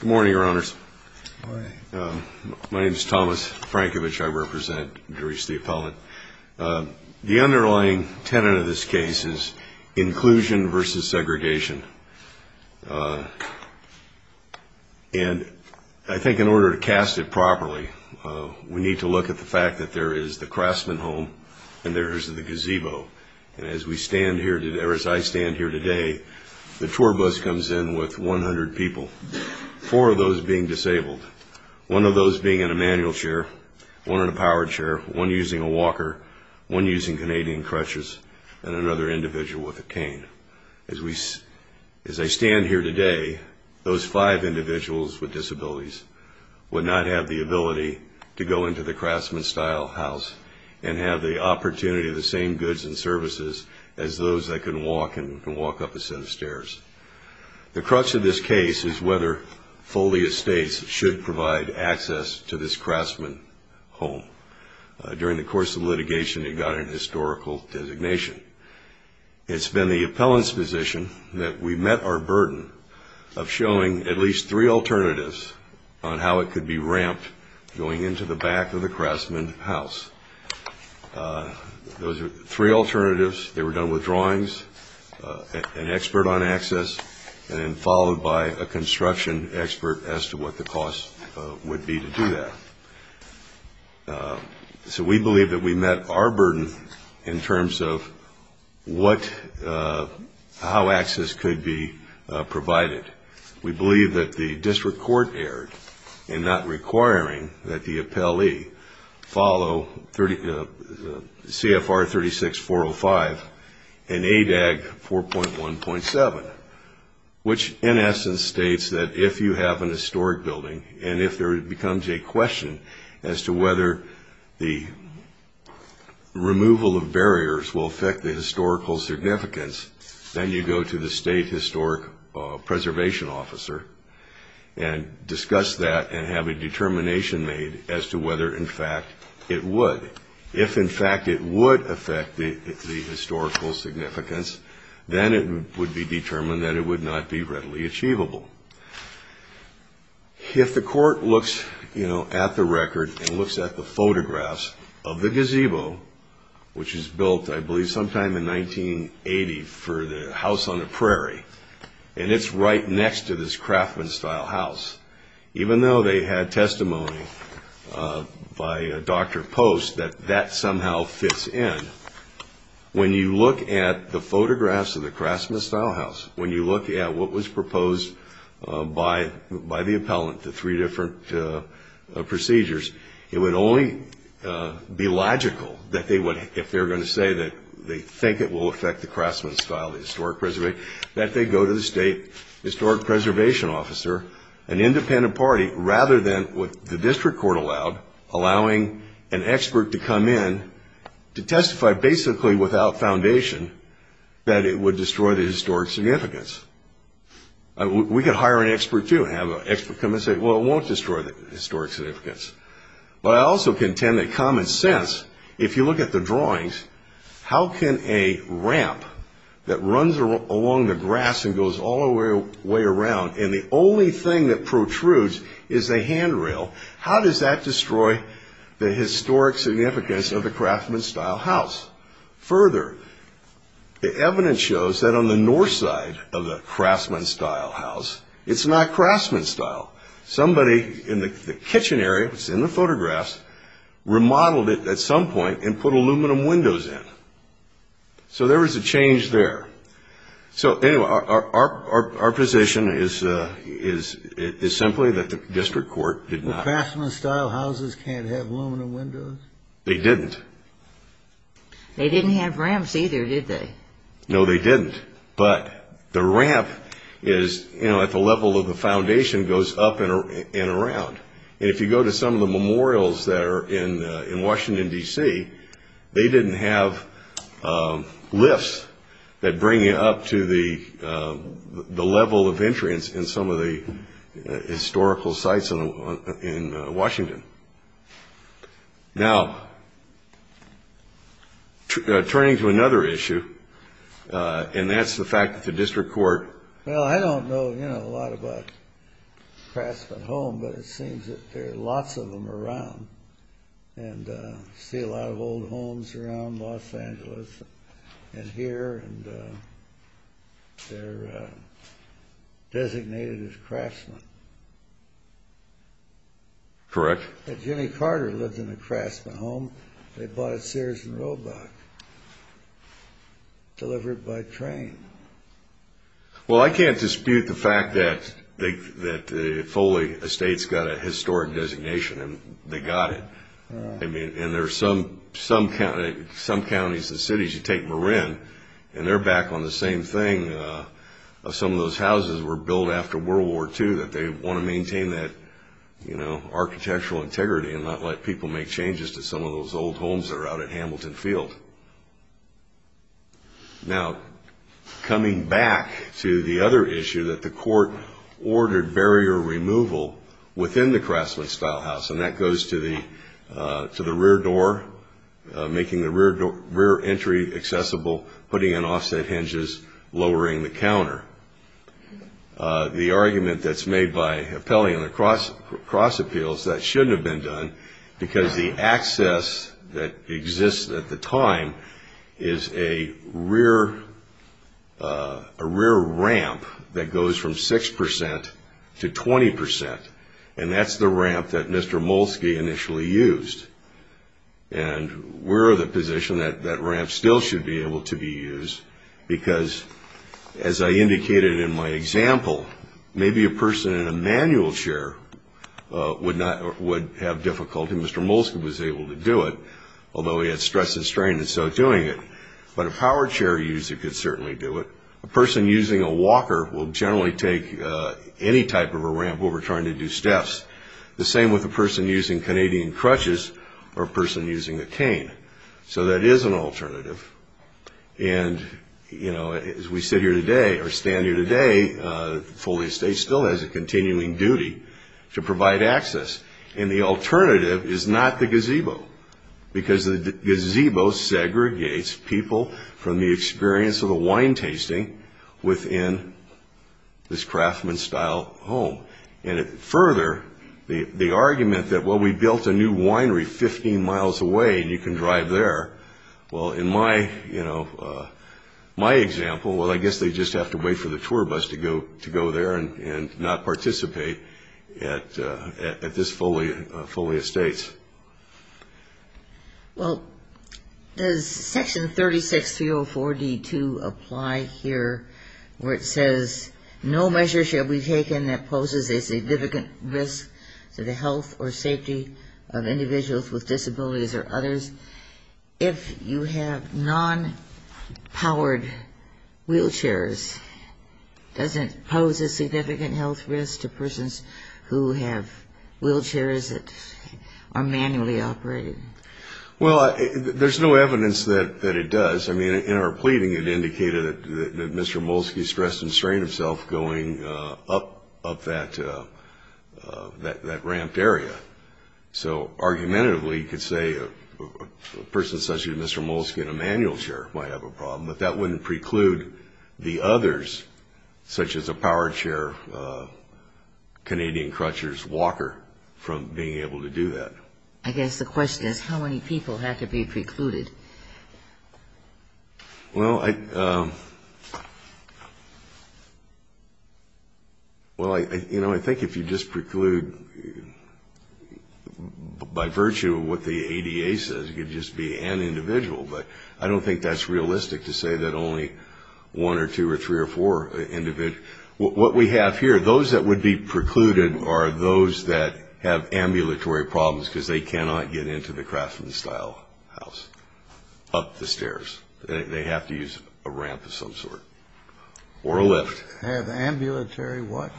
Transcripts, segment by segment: Good morning, Your Honors. My name is Thomas Frankovich. I represent Dreece the Appellant. The underlying tenet of this case is inclusion versus segregation. And I think in order to cast it properly, we need to look at the fact that there is the craftsman home and there is the gazebo. And as we stand here today, or as I stand here today, the tour bus comes in with 100 people, four of those being disabled, one of those being in a manual chair, one in a powered chair, one using a walker, one using Canadian crutches, and another individual with a cane. As I stand here today, those five individuals with disabilities would not have the ability to go into the craftsman-style house and have the opportunity of the same stairs. The crux of this case is whether Foley Estates should provide access to this craftsman home. During the course of litigation, it got an historical designation. It's been the appellant's position that we met our burden of showing at least three alternatives on how it could be ramped going into the back of the craftsman house. Those three alternatives, they were done with drawings, an expert on access, and then followed by a construction expert as to what the cost would be to do that. So we believe that we met our burden in terms of what, how access could be provided. We believe that the district court erred in not requiring that the appellee follow CFR 36405 and ADAG 4.1.7, which in essence states that if you have an historic building and if there becomes a question as to whether the removal of barriers will affect the historical significance, then you go to the state historic preservation officer and discuss that and have a determination made as to whether in fact it would. If in fact it would affect the historical significance, then it would be determined that it would not be readily achievable. If the court looks at the record and looks at the photographs of the gazebo, which is built I believe sometime in 1980 for the House on the Prairie, and it's right next to this craftsman style house, even though they had testimony by Dr. Post that that somehow fits in, when you look at the photographs of the craftsman style house, when you look at what was proposed by the appellant, the three different procedures, it would only be logical that they would, if they were going to say that they think it will affect the craftsman style, the historic preservation, that they go to the state historic preservation officer, an independent party, rather than what the district court allowed, allowing an expert to come in to testify basically without foundation that it would destroy the historic significance. We could hire an expert too and have an expert come and say, well, it won't destroy the historic significance. I also contend that common sense, if you look at the drawings, how can a ramp that runs along the grass and goes all the way around and the only thing that protrudes is a handrail, how does that destroy the historic significance of the craftsman style house? Further, the evidence shows that on the north side of the craftsman style house, it's not craftsman style. Somebody in the kitchen area, it's in the photographs, remodeled it at some point and put aluminum windows in. So there was a change there. So anyway, our position is simply that the district court did not. The craftsman style houses can't have aluminum windows? They didn't. They didn't have ramps either, did they? No, they didn't, but the ramp is at the level of the foundation, goes up and around. If you go to some of the memorials that are in Washington, D.C., they didn't have lifts that bring you up to the level of entrance in some of the historical sites in Washington. Now, turning to another issue, and that's the fact that the district court... Well, I don't know a lot about craftsman homes, but it seems that there are lots of them around and I see a lot of old homes around Los Angeles and here and they're designated as craftsmen. Correct. Jimmy Carter lived in a craftsman home. They bought it at Sears and Roebuck, delivered by train. Well, I can't dispute the fact that Foley Estates got a historic designation and they got it. I mean, in some counties and cities, you take Marin and they're back on the same thing. Some of those houses were built after World War II that they want to maintain that architectural integrity and not let people make changes to some of those old homes that are out at Hamilton Field. Now, coming back to the other issue that the court ordered barrier removal within the craftsman style house, and that goes to the rear door, making the rear entry accessible, putting in offset hinges, lowering the counter. The argument that's made by Pele in the cross appeals, that shouldn't have been done because the access that exists at the time is a rear ramp that goes from 6% to 20% and that's the ramp that Mr. Molsky initially used. And we're of the position that that ramp still should be able to be used because, as I indicated in my example, maybe a person in a manual chair would have difficulty. Mr. Molsky was able to do it, although he had stress and strain in so doing it. But a power chair user could certainly do it. A person using a walker will generally take any type of a ramp over trying to do steps. The same with a person using Canadian crutches or a person using a cane. So that is an alternative. And, you know, as we sit here today, or stand here today, Foley Estate still has a continuing duty to provide access. And the alternative is not the gazebo because the gazebo segregates people from the experience of the wine tasting within this craftsman style home. And further, the argument that, well, we built a new winery 15 miles away and you can drive there. Well, in my, you know, my example, well, I guess they just have to wait for the tour bus to go there and not participate at this Foley Estates. Well, does Section 36304D2 apply here where it says, no measure shall be taken that poses a significant risk to the health or safety of individuals with disabilities or others if you have non-powered wheelchairs? Does it pose a significant health risk to persons who have wheelchairs that are manually operated? Well, there's no evidence that it does. I mean, in our pleading it indicated that Mr. Moleskine could help up that ramped area. So, argumentatively, you could say a person such as Mr. Moleskine, a manual chair, might have a problem, but that wouldn't preclude the others, such as a power chair, Canadian crutchers, walker, from being able to do that. I guess the question is how many people have to be precluded? Well, I think if you just preclude by virtue of what the ADA says, it could just be an individual, but I don't think that's realistic to say that only one or two or three or four individuals. What we have here, those that would be precluded are those that have ambulatory problems because they cannot get into the Craftsman Style house up the stairs. They have to use a ramp of some sort or a lift. Have ambulatory what?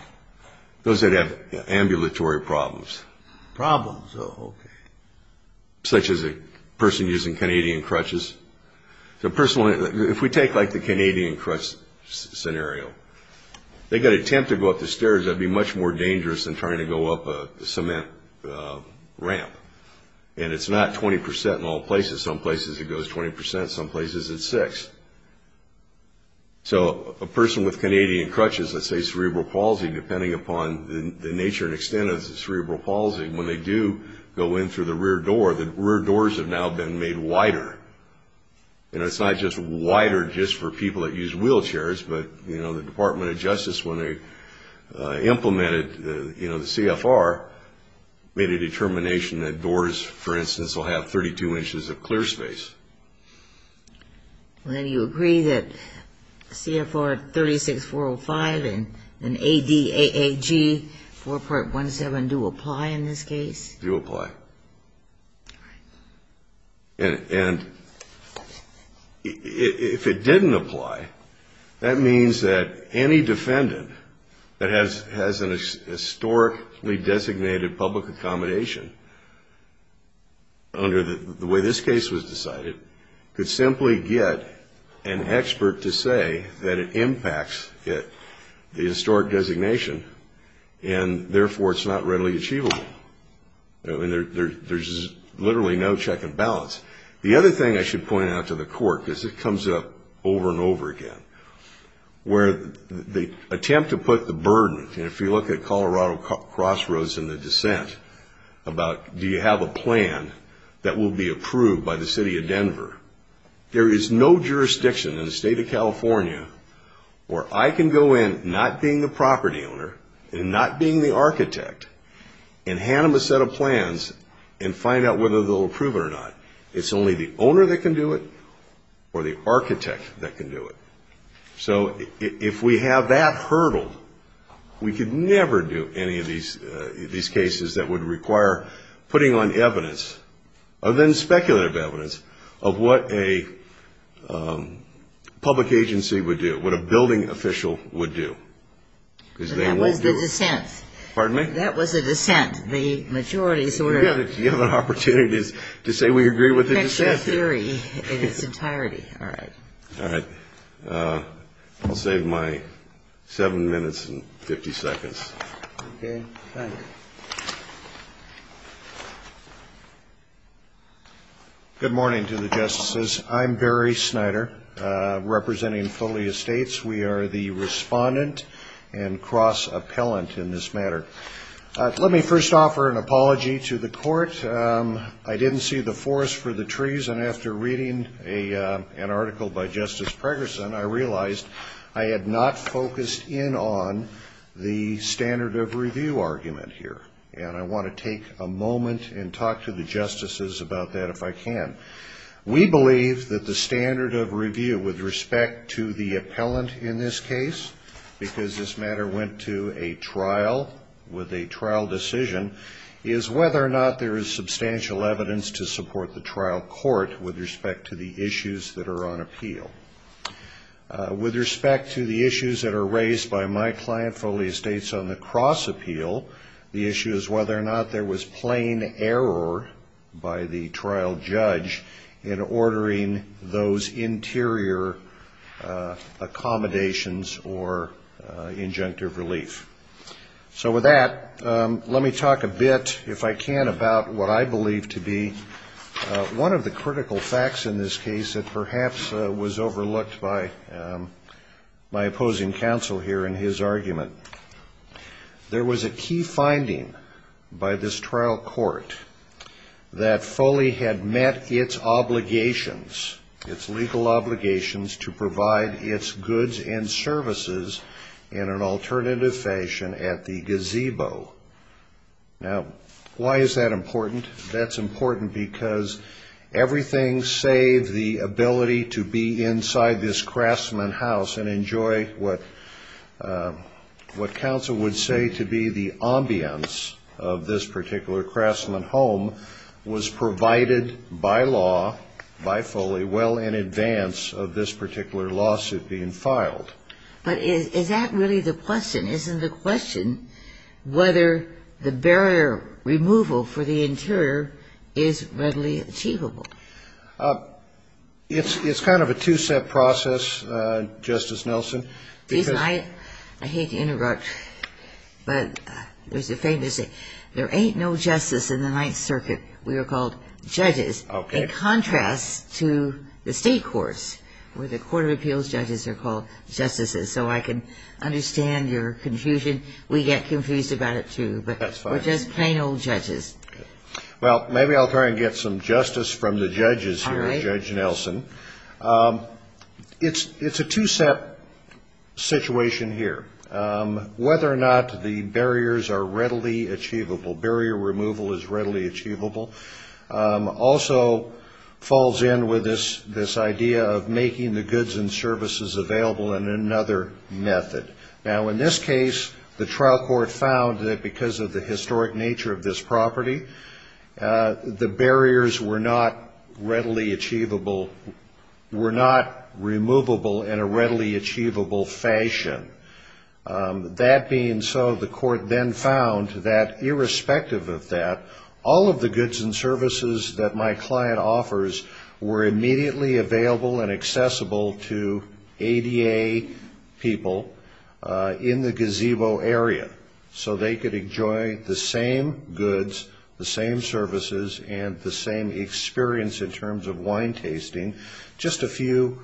Those that have ambulatory problems. Problems, oh, okay. Such as a person using Canadian crutches. So, personally, if we take like the Canadian crutch scenario, they could attempt to go up the stairs. That would be much more dangerous than trying to go up a cement ramp. And it's not 20% in all places. Some places it goes 20%, some places it's 6%. So, a person with Canadian crutches, let's say cerebral palsy, depending upon the nature and extent of the cerebral palsy, when they do go in through the rear door, the rear doors have now been made wider. And it's not just wider just for people that use wheelchairs, but, you know, the Department of Justice, when they implemented, you know, the CFR, made a determination that doors, for instance, will have 32 inches of clear space. Well, do you agree that CFR 36405 and ADAAG 4.17 do apply in this case? Do apply. And if it didn't apply, that means that any defendant that has an historically designated public accommodation under the way this case was decided could simply get an expert to say that it impacts the historic designation and, therefore, it's not readily achievable. I mean, there's literally no check and balance. The other thing I should point out to the court, because it comes up over and over again, where the attempt to put the burden, you know, if you look at Colorado Crossroads and the dissent about do you have a plan that will be approved by the city of Denver, there is no jurisdiction in the state of California where I can go in not being the property owner and not being the architect and hand them a set of plans and find out whether they'll approve it or not. It's only the owner that can do it or the architect that can do it. So if we have that hurdle, we could never do any of these cases that would require putting on evidence, other than speculative evidence, of what a public agency would do, what a building official would do, because they won't do it. But that was the dissent. Pardon me? That was the dissent. The majority sort of... You have an opportunity to say we agree with the dissent. It's a theory in its entirety. All right. All right. I'll save my seven minutes and 50 seconds. Okay. Thank you. Good morning to the justices. I'm Barry Snyder, representing Foley Estates. We are the respondent and cross-appellant in this matter. Let me first offer an apology to the court. I didn't see the forest for the trees, and after reading an article by Justice Pregerson, I realized I had not focused in on the standard of review argument here. And I want to take a moment and talk to the justices about that if I can. We believe that the standard of review with respect to the appellant in this case, because this matter went to a trial with a trial decision, is whether or not there is substantial evidence to support the trial court with respect to the issues that are on appeal. With respect to the issues that are raised by my client, Foley Estates, on the cross-appeal, the issue is whether or not there was plain error by the trial judge in ordering those interior accommodations or injunctive relief. So with that, let me talk a bit, if I can, about what I believe to be one of the critical facts in this case that perhaps was overlooked by my opposing counsel here in his argument. There was a key finding by this trial court that Foley had met its obligations, its legal obligations, to provide its goods and services in an alternative fashion at the gazebo. Now, why is that important? That's important because everything save the ability to be inside this craftsman house and enjoy what counsel would say to be the ambience of this particular craftsman home was provided by law by Foley well in advance of this particular lawsuit being filed. But is that really the question? Isn't the question whether the barrier removal for the interior is readily achievable? It's kind of a two-step process, Justice Nelson. I hate to interrupt, but there's a famous saying, there ain't no justice in the Ninth Circuit. We are called judges, in contrast to the state courts where the Court of Appeals judges are called justices. So I can understand your confusion. We get confused about it, too, but we're just plain old judges. Well, maybe I'll try and get some justice from the judges here, Judge Nelson. It's a two-step situation here. Whether or not the barriers are readily achievable, barrier removal is readily achievable, also falls in with this idea of making the goods and services available in another method. Now, in this case, the trial court found that because of the historic nature of this property, the barriers were not removable in a readily achievable fashion. That being so, the court then found that irrespective of that, all of the goods and services that my client offers were immediately available and accessible to ADA people in the gazebo area. So they could enjoy the same goods, the same services, and the same experience in terms of wine tasting. And that's just a few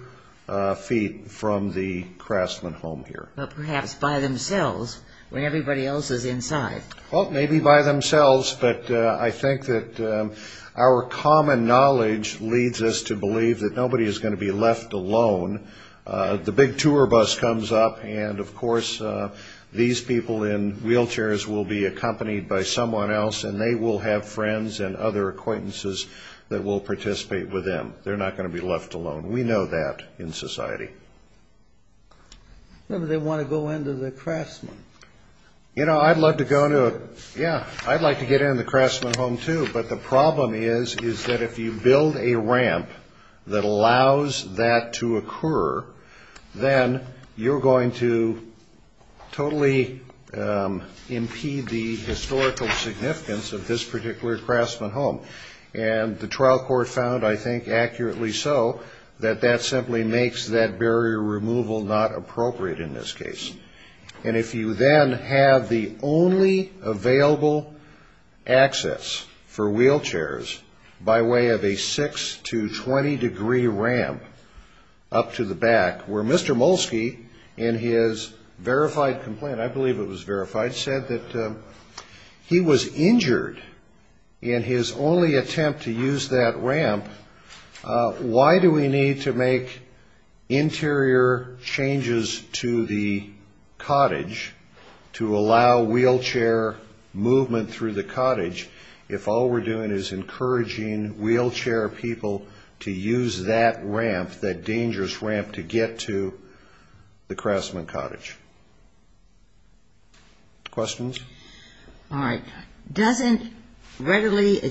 feet from the Craftsman home here. But perhaps by themselves, when everybody else is inside. Well, maybe by themselves, but I think that our common knowledge leads us to believe that nobody is going to be left alone. The big tour bus comes up, and of course these people in wheelchairs will be accompanied by someone else, and they will have friends and other acquaintances that will participate with them. They're not going to be left alone. We know that in society. Remember, they want to go into the Craftsman. You know, I'd love to go to a, yeah, I'd like to get into the Craftsman home, too. But the problem is, is that if you build a ramp that allows that to occur, then you're going to totally impede the historical significance of this particular Craftsman home. And the trial court found, I think, accurately so, that that simply makes that barrier removal not appropriate in this case. And if you then have the only available access for wheelchairs by way of a 6 to 20 degree ramp up to the back, where Mr. Molski, in his verified complaint, I believe it was verified, said that he was injured in his own wheelchair. If we can only attempt to use that ramp, why do we need to make interior changes to the cottage to allow wheelchair movement through the cottage, if all we're doing is encouraging wheelchair people to use that ramp, that dangerous ramp, to get to the Craftsman cottage? Questions? Answering the question. Answering the question. Well,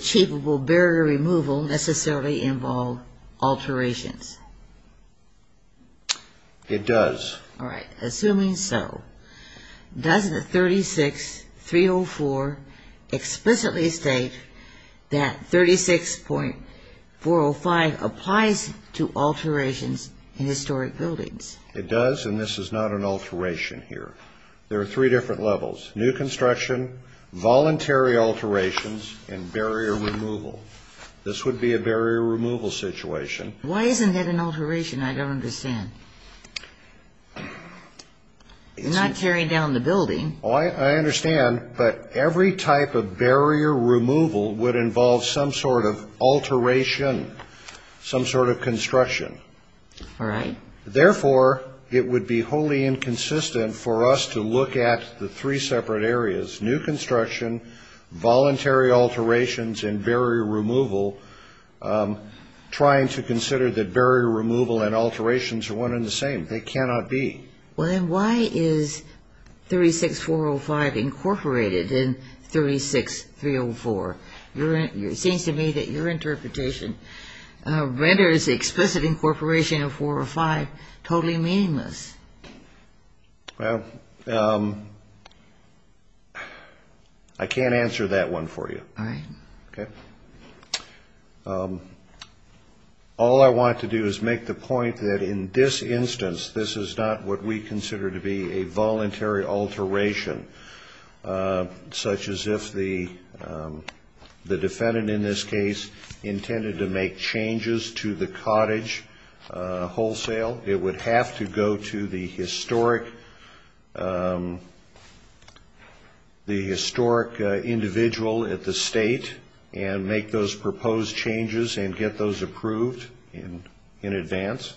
I can't answer that one for you. All I want to do is make the point that in this instance, this is not what we consider to be a voluntary alteration, such as if the defendant in this case intended to make changes to the cottage wholesale. It would have to go to the historic individual at the state and make those proposed changes and get those approved in advance.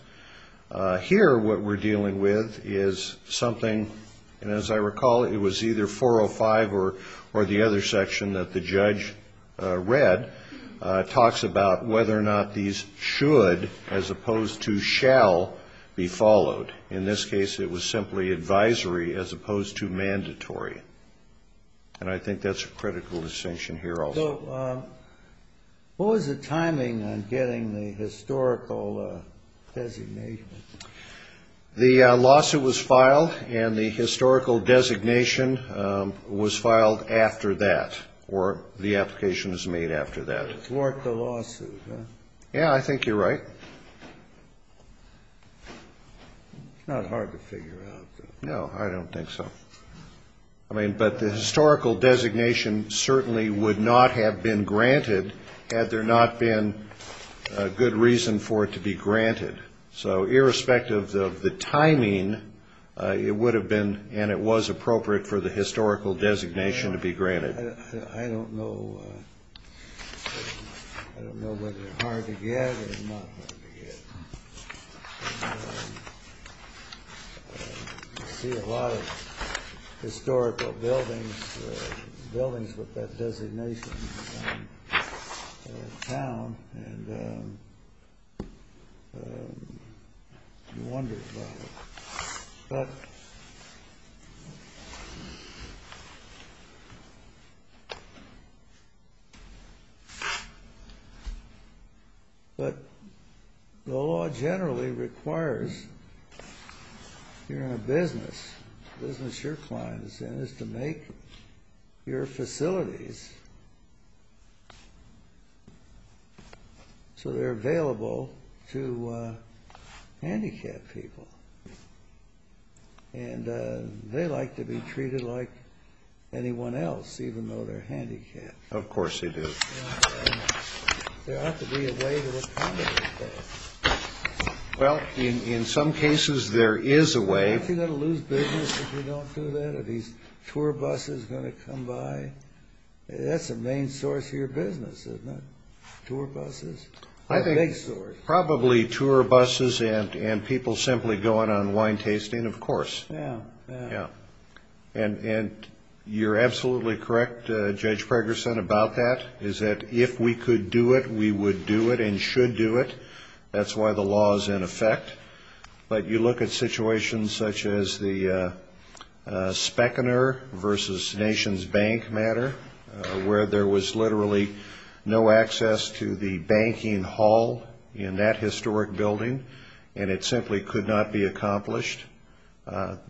Here, what we're dealing with is something, and as I recall, it was either 405 or the other section that the judge read, talks about whether or not these should, as opposed to shall, be changed. In this case, it was simply advisory as opposed to mandatory, and I think that's a critical distinction here also. So what was the timing on getting the historical designation? The lawsuit was filed, and the historical designation was filed after that, or the application was made after that. Yeah, I think you're right. It's not hard to figure out. No, I don't think so. I mean, but the historical designation certainly would not have been granted had there not been a good reason for it to be granted. So irrespective of the timing, it would have been, and it was appropriate for the historical designation to be granted. I don't know whether it's hard to get or not hard to get. You see a lot of historical buildings with that designation in town, and you wonder about it. But the law generally requires, if you're in a business, the business your client is in is to make your facilities so they're available to handicapped people. And they like to be treated like anyone else, even though they're handicapped. Of course they do. There ought to be a way to accommodate that. Well, in some cases there is a way. Aren't you going to lose business if you don't do that? Are these tour buses going to come by? That's the main source of your business, isn't it, tour buses? Probably tour buses and people simply going on wine tasting, of course. And you're absolutely correct, Judge Pregerson, about that, is that if we could do it, we would do it and should do it. That's why the law is in effect. But you look at situations such as the Speckner v. Nation's Bank matter, where there was literally no access to the banking hall in that historic building, and it simply could not be accomplished.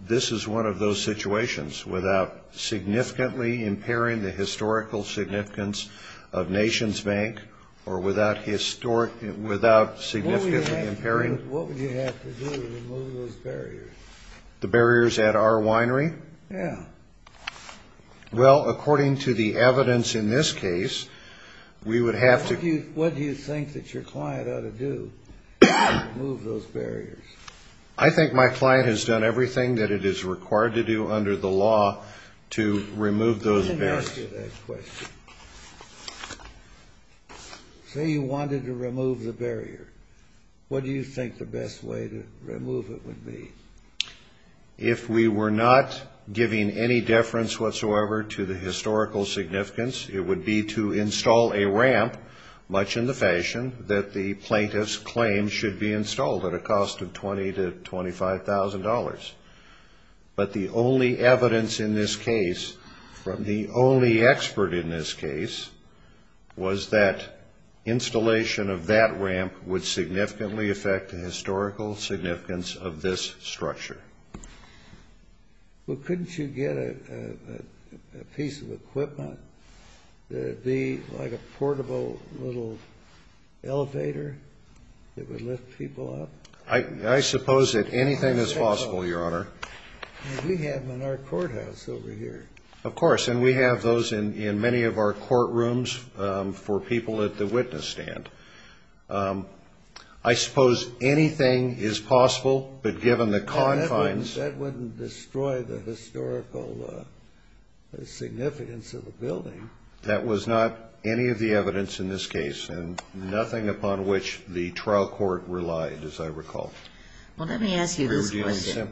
This is one of those situations, without significantly impairing the historical significance of Nation's Bank, or without significantly impairing... What would you have to do to remove those barriers? The barriers at our winery? Yeah. Well, according to the evidence in this case, we would have to... What do you think that your client ought to do to remove those barriers? I think my client has done everything that it is required to do under the law to remove those barriers. Let me ask you that question. Say you wanted to remove the barrier, what do you think the best way to remove it would be? If we were not giving any deference whatsoever to the historical significance, it would be to install a ramp, much in the fashion that the plaintiffs claim should be installed at a cost of $2,000. But the only evidence in this case, from the only expert in this case, was that installation of that ramp would significantly affect the historical significance of this structure. Well, couldn't you get a piece of equipment that would be like a portable little elevator that would lift people up? I suppose that anything is possible, Your Honor. We have them in our courthouse over here. Of course, and we have those in many of our courtrooms for people at the witness stand. I suppose anything is possible, but given the confines... That wouldn't destroy the historical significance of the building. That was not any of the evidence in this case, and nothing upon which the trial court relied, as I recall. Well, let me ask you this question.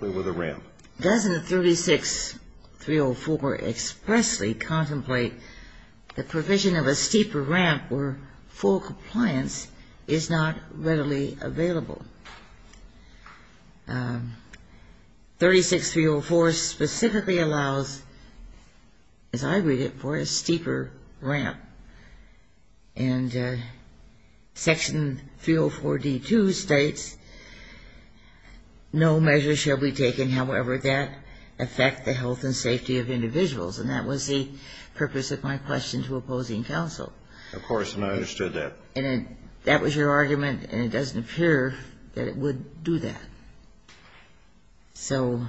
Doesn't 36-304 expressly contemplate the provision of a steeper ramp where full compliance is not readily available? 36-304 specifically allows, as I read it, for a steeper ramp. And Section 304d-2 states, no measure shall be taken, however that affect the health and safety of individuals. And that was the purpose of my question to opposing counsel. Of course, and I understood that. And that was your argument, and it doesn't appear that it would do that. So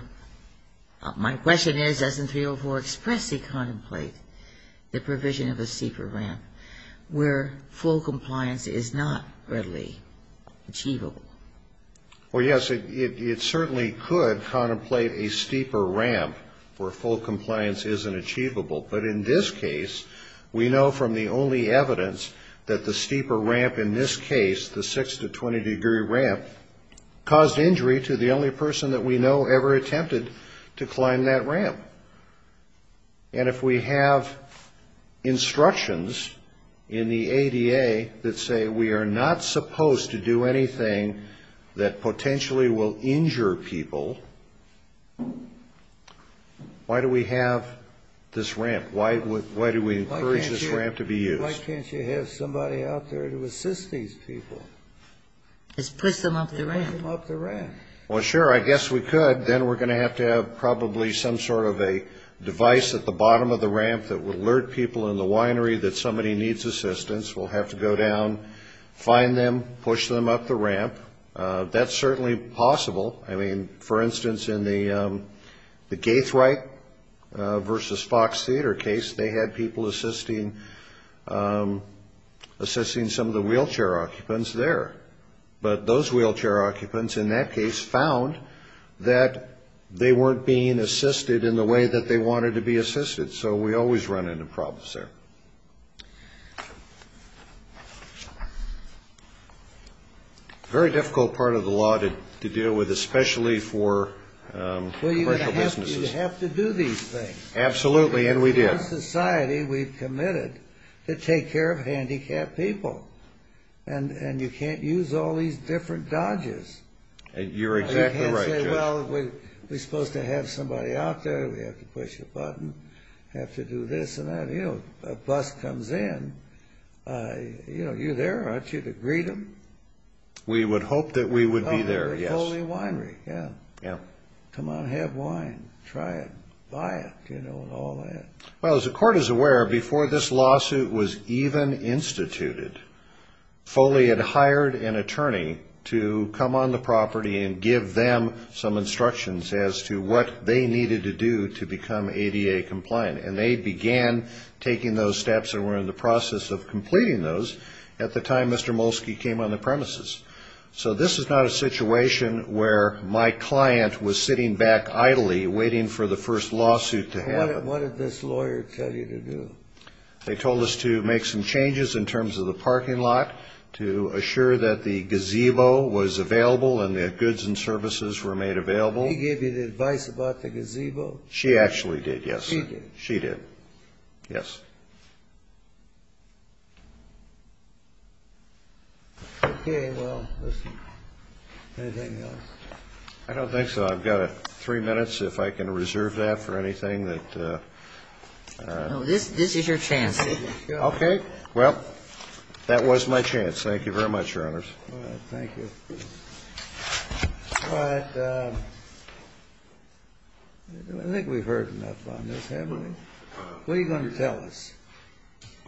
my question is, doesn't 304 expressly contemplate the provision of a steeper ramp where full compliance is not readily achievable? Well, yes, it certainly could contemplate a steeper ramp where full compliance isn't achievable. But in this case, we know from the only evidence that the steeper ramp in this case, the 6 to 20-degree ramp, caused injury to the only person that we know ever attempted to climb that ramp. And if we have instructions in the ADA that say we are not supposed to do anything that potentially will injure people, why do we have this ramp? Why do we encourage this ramp to be used? Let's push them up the ramp. Well, sure, I guess we could. Then we're going to have to have probably some sort of a device at the bottom of the ramp that would alert people in the winery that somebody needs assistance. We'll have to go down, find them, push them up the ramp. That's certainly possible. I mean, for instance, in the Gaithwright versus Fox Theater case, they had people assisting some of the wheelchair occupants there. But those wheelchair occupants in that case found that they weren't being assisted in the way that they wanted to be assisted. So we always run into problems there. Very difficult part of the law to deal with, especially for commercial businesses. Well, you have to do these things. Absolutely, and we do. In our society, we've committed to take care of handicapped people. And you can't use all these different dodges. You're exactly right, Judge. We're supposed to have somebody out there, we have to push a button, have to do this and that. A bus comes in, you're there, aren't you, to greet them? We would hope that we would be there, yes. Come on, have wine, try it, buy it, and all that. Well, as the court is aware, before this lawsuit was even instituted, Foley had hired an attorney to come on the property and give them some instructions as to what they needed to do to become ADA compliant. And they began taking those steps and were in the process of completing those at the time Mr. Molsky came on the premises. So this is not a situation where my client was sitting back idly waiting for the first lawsuit to happen. What did this lawyer tell you to do? They told us to make some changes in terms of the parking lot, to assure that the gazebo was available and that goods and services were made available. He gave you the advice about the gazebo? She actually did, yes. She did. Okay. Well, anything else? I don't think so. I've got three minutes, if I can reserve that for anything. No, this is your chance. Okay, well, that was my chance. Thank you very much, Your Honors. I think we've heard enough on this, haven't we? What are you going to tell us?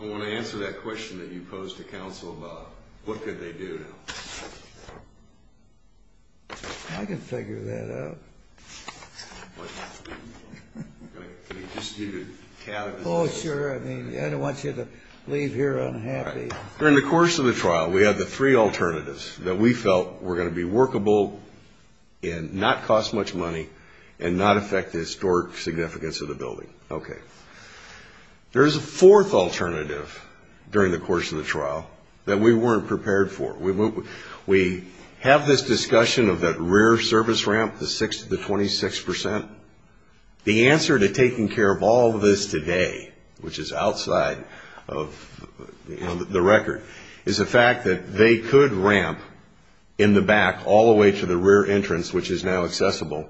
I want to answer that question that you posed to counsel about what could they do. I can figure that out. Oh, sure. I don't want you to leave here unhappy. During the course of the trial, we had the three alternatives that we felt were going to be workable and not cost much money There's a fourth alternative during the course of the trial that we weren't prepared for. We have this discussion of that rear service ramp, the 26%. The answer to taking care of all of this today, which is outside of the record, is the fact that they could ramp in the back all the way to the rear entrance, which is now accessible,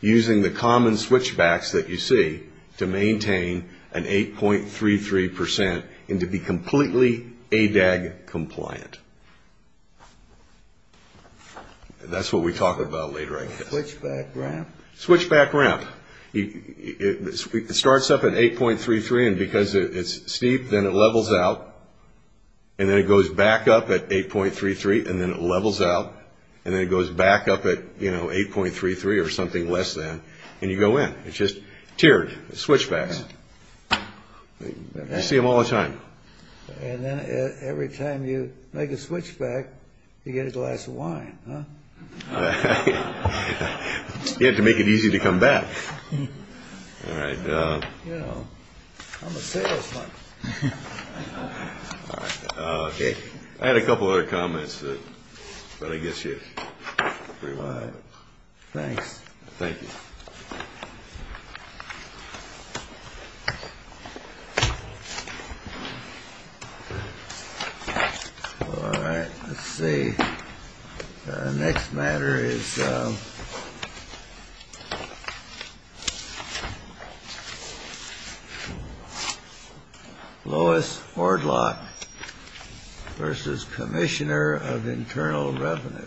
using the common switchbacks that you see. The idea is to maintain an 8.33% and to be completely ADAG compliant. That's what we talk about later, I guess. Switchback ramp. It starts up at 8.33, and because it's steep, then it levels out, and then it goes back up at 8.33, and then it levels out, and then it goes back up at 8.33 or something less, and you go in. It's just tiered switchbacks. You see them all the time. And then every time you make a switchback, you get a glass of wine. You have to make it easy to come back. I'm a salesman. I had a couple other comments, but I guess you're free to go ahead. Thanks. Thank you. All right. Let's see. Next matter is Lois Fordlock versus Commissioner of Internal Revenue.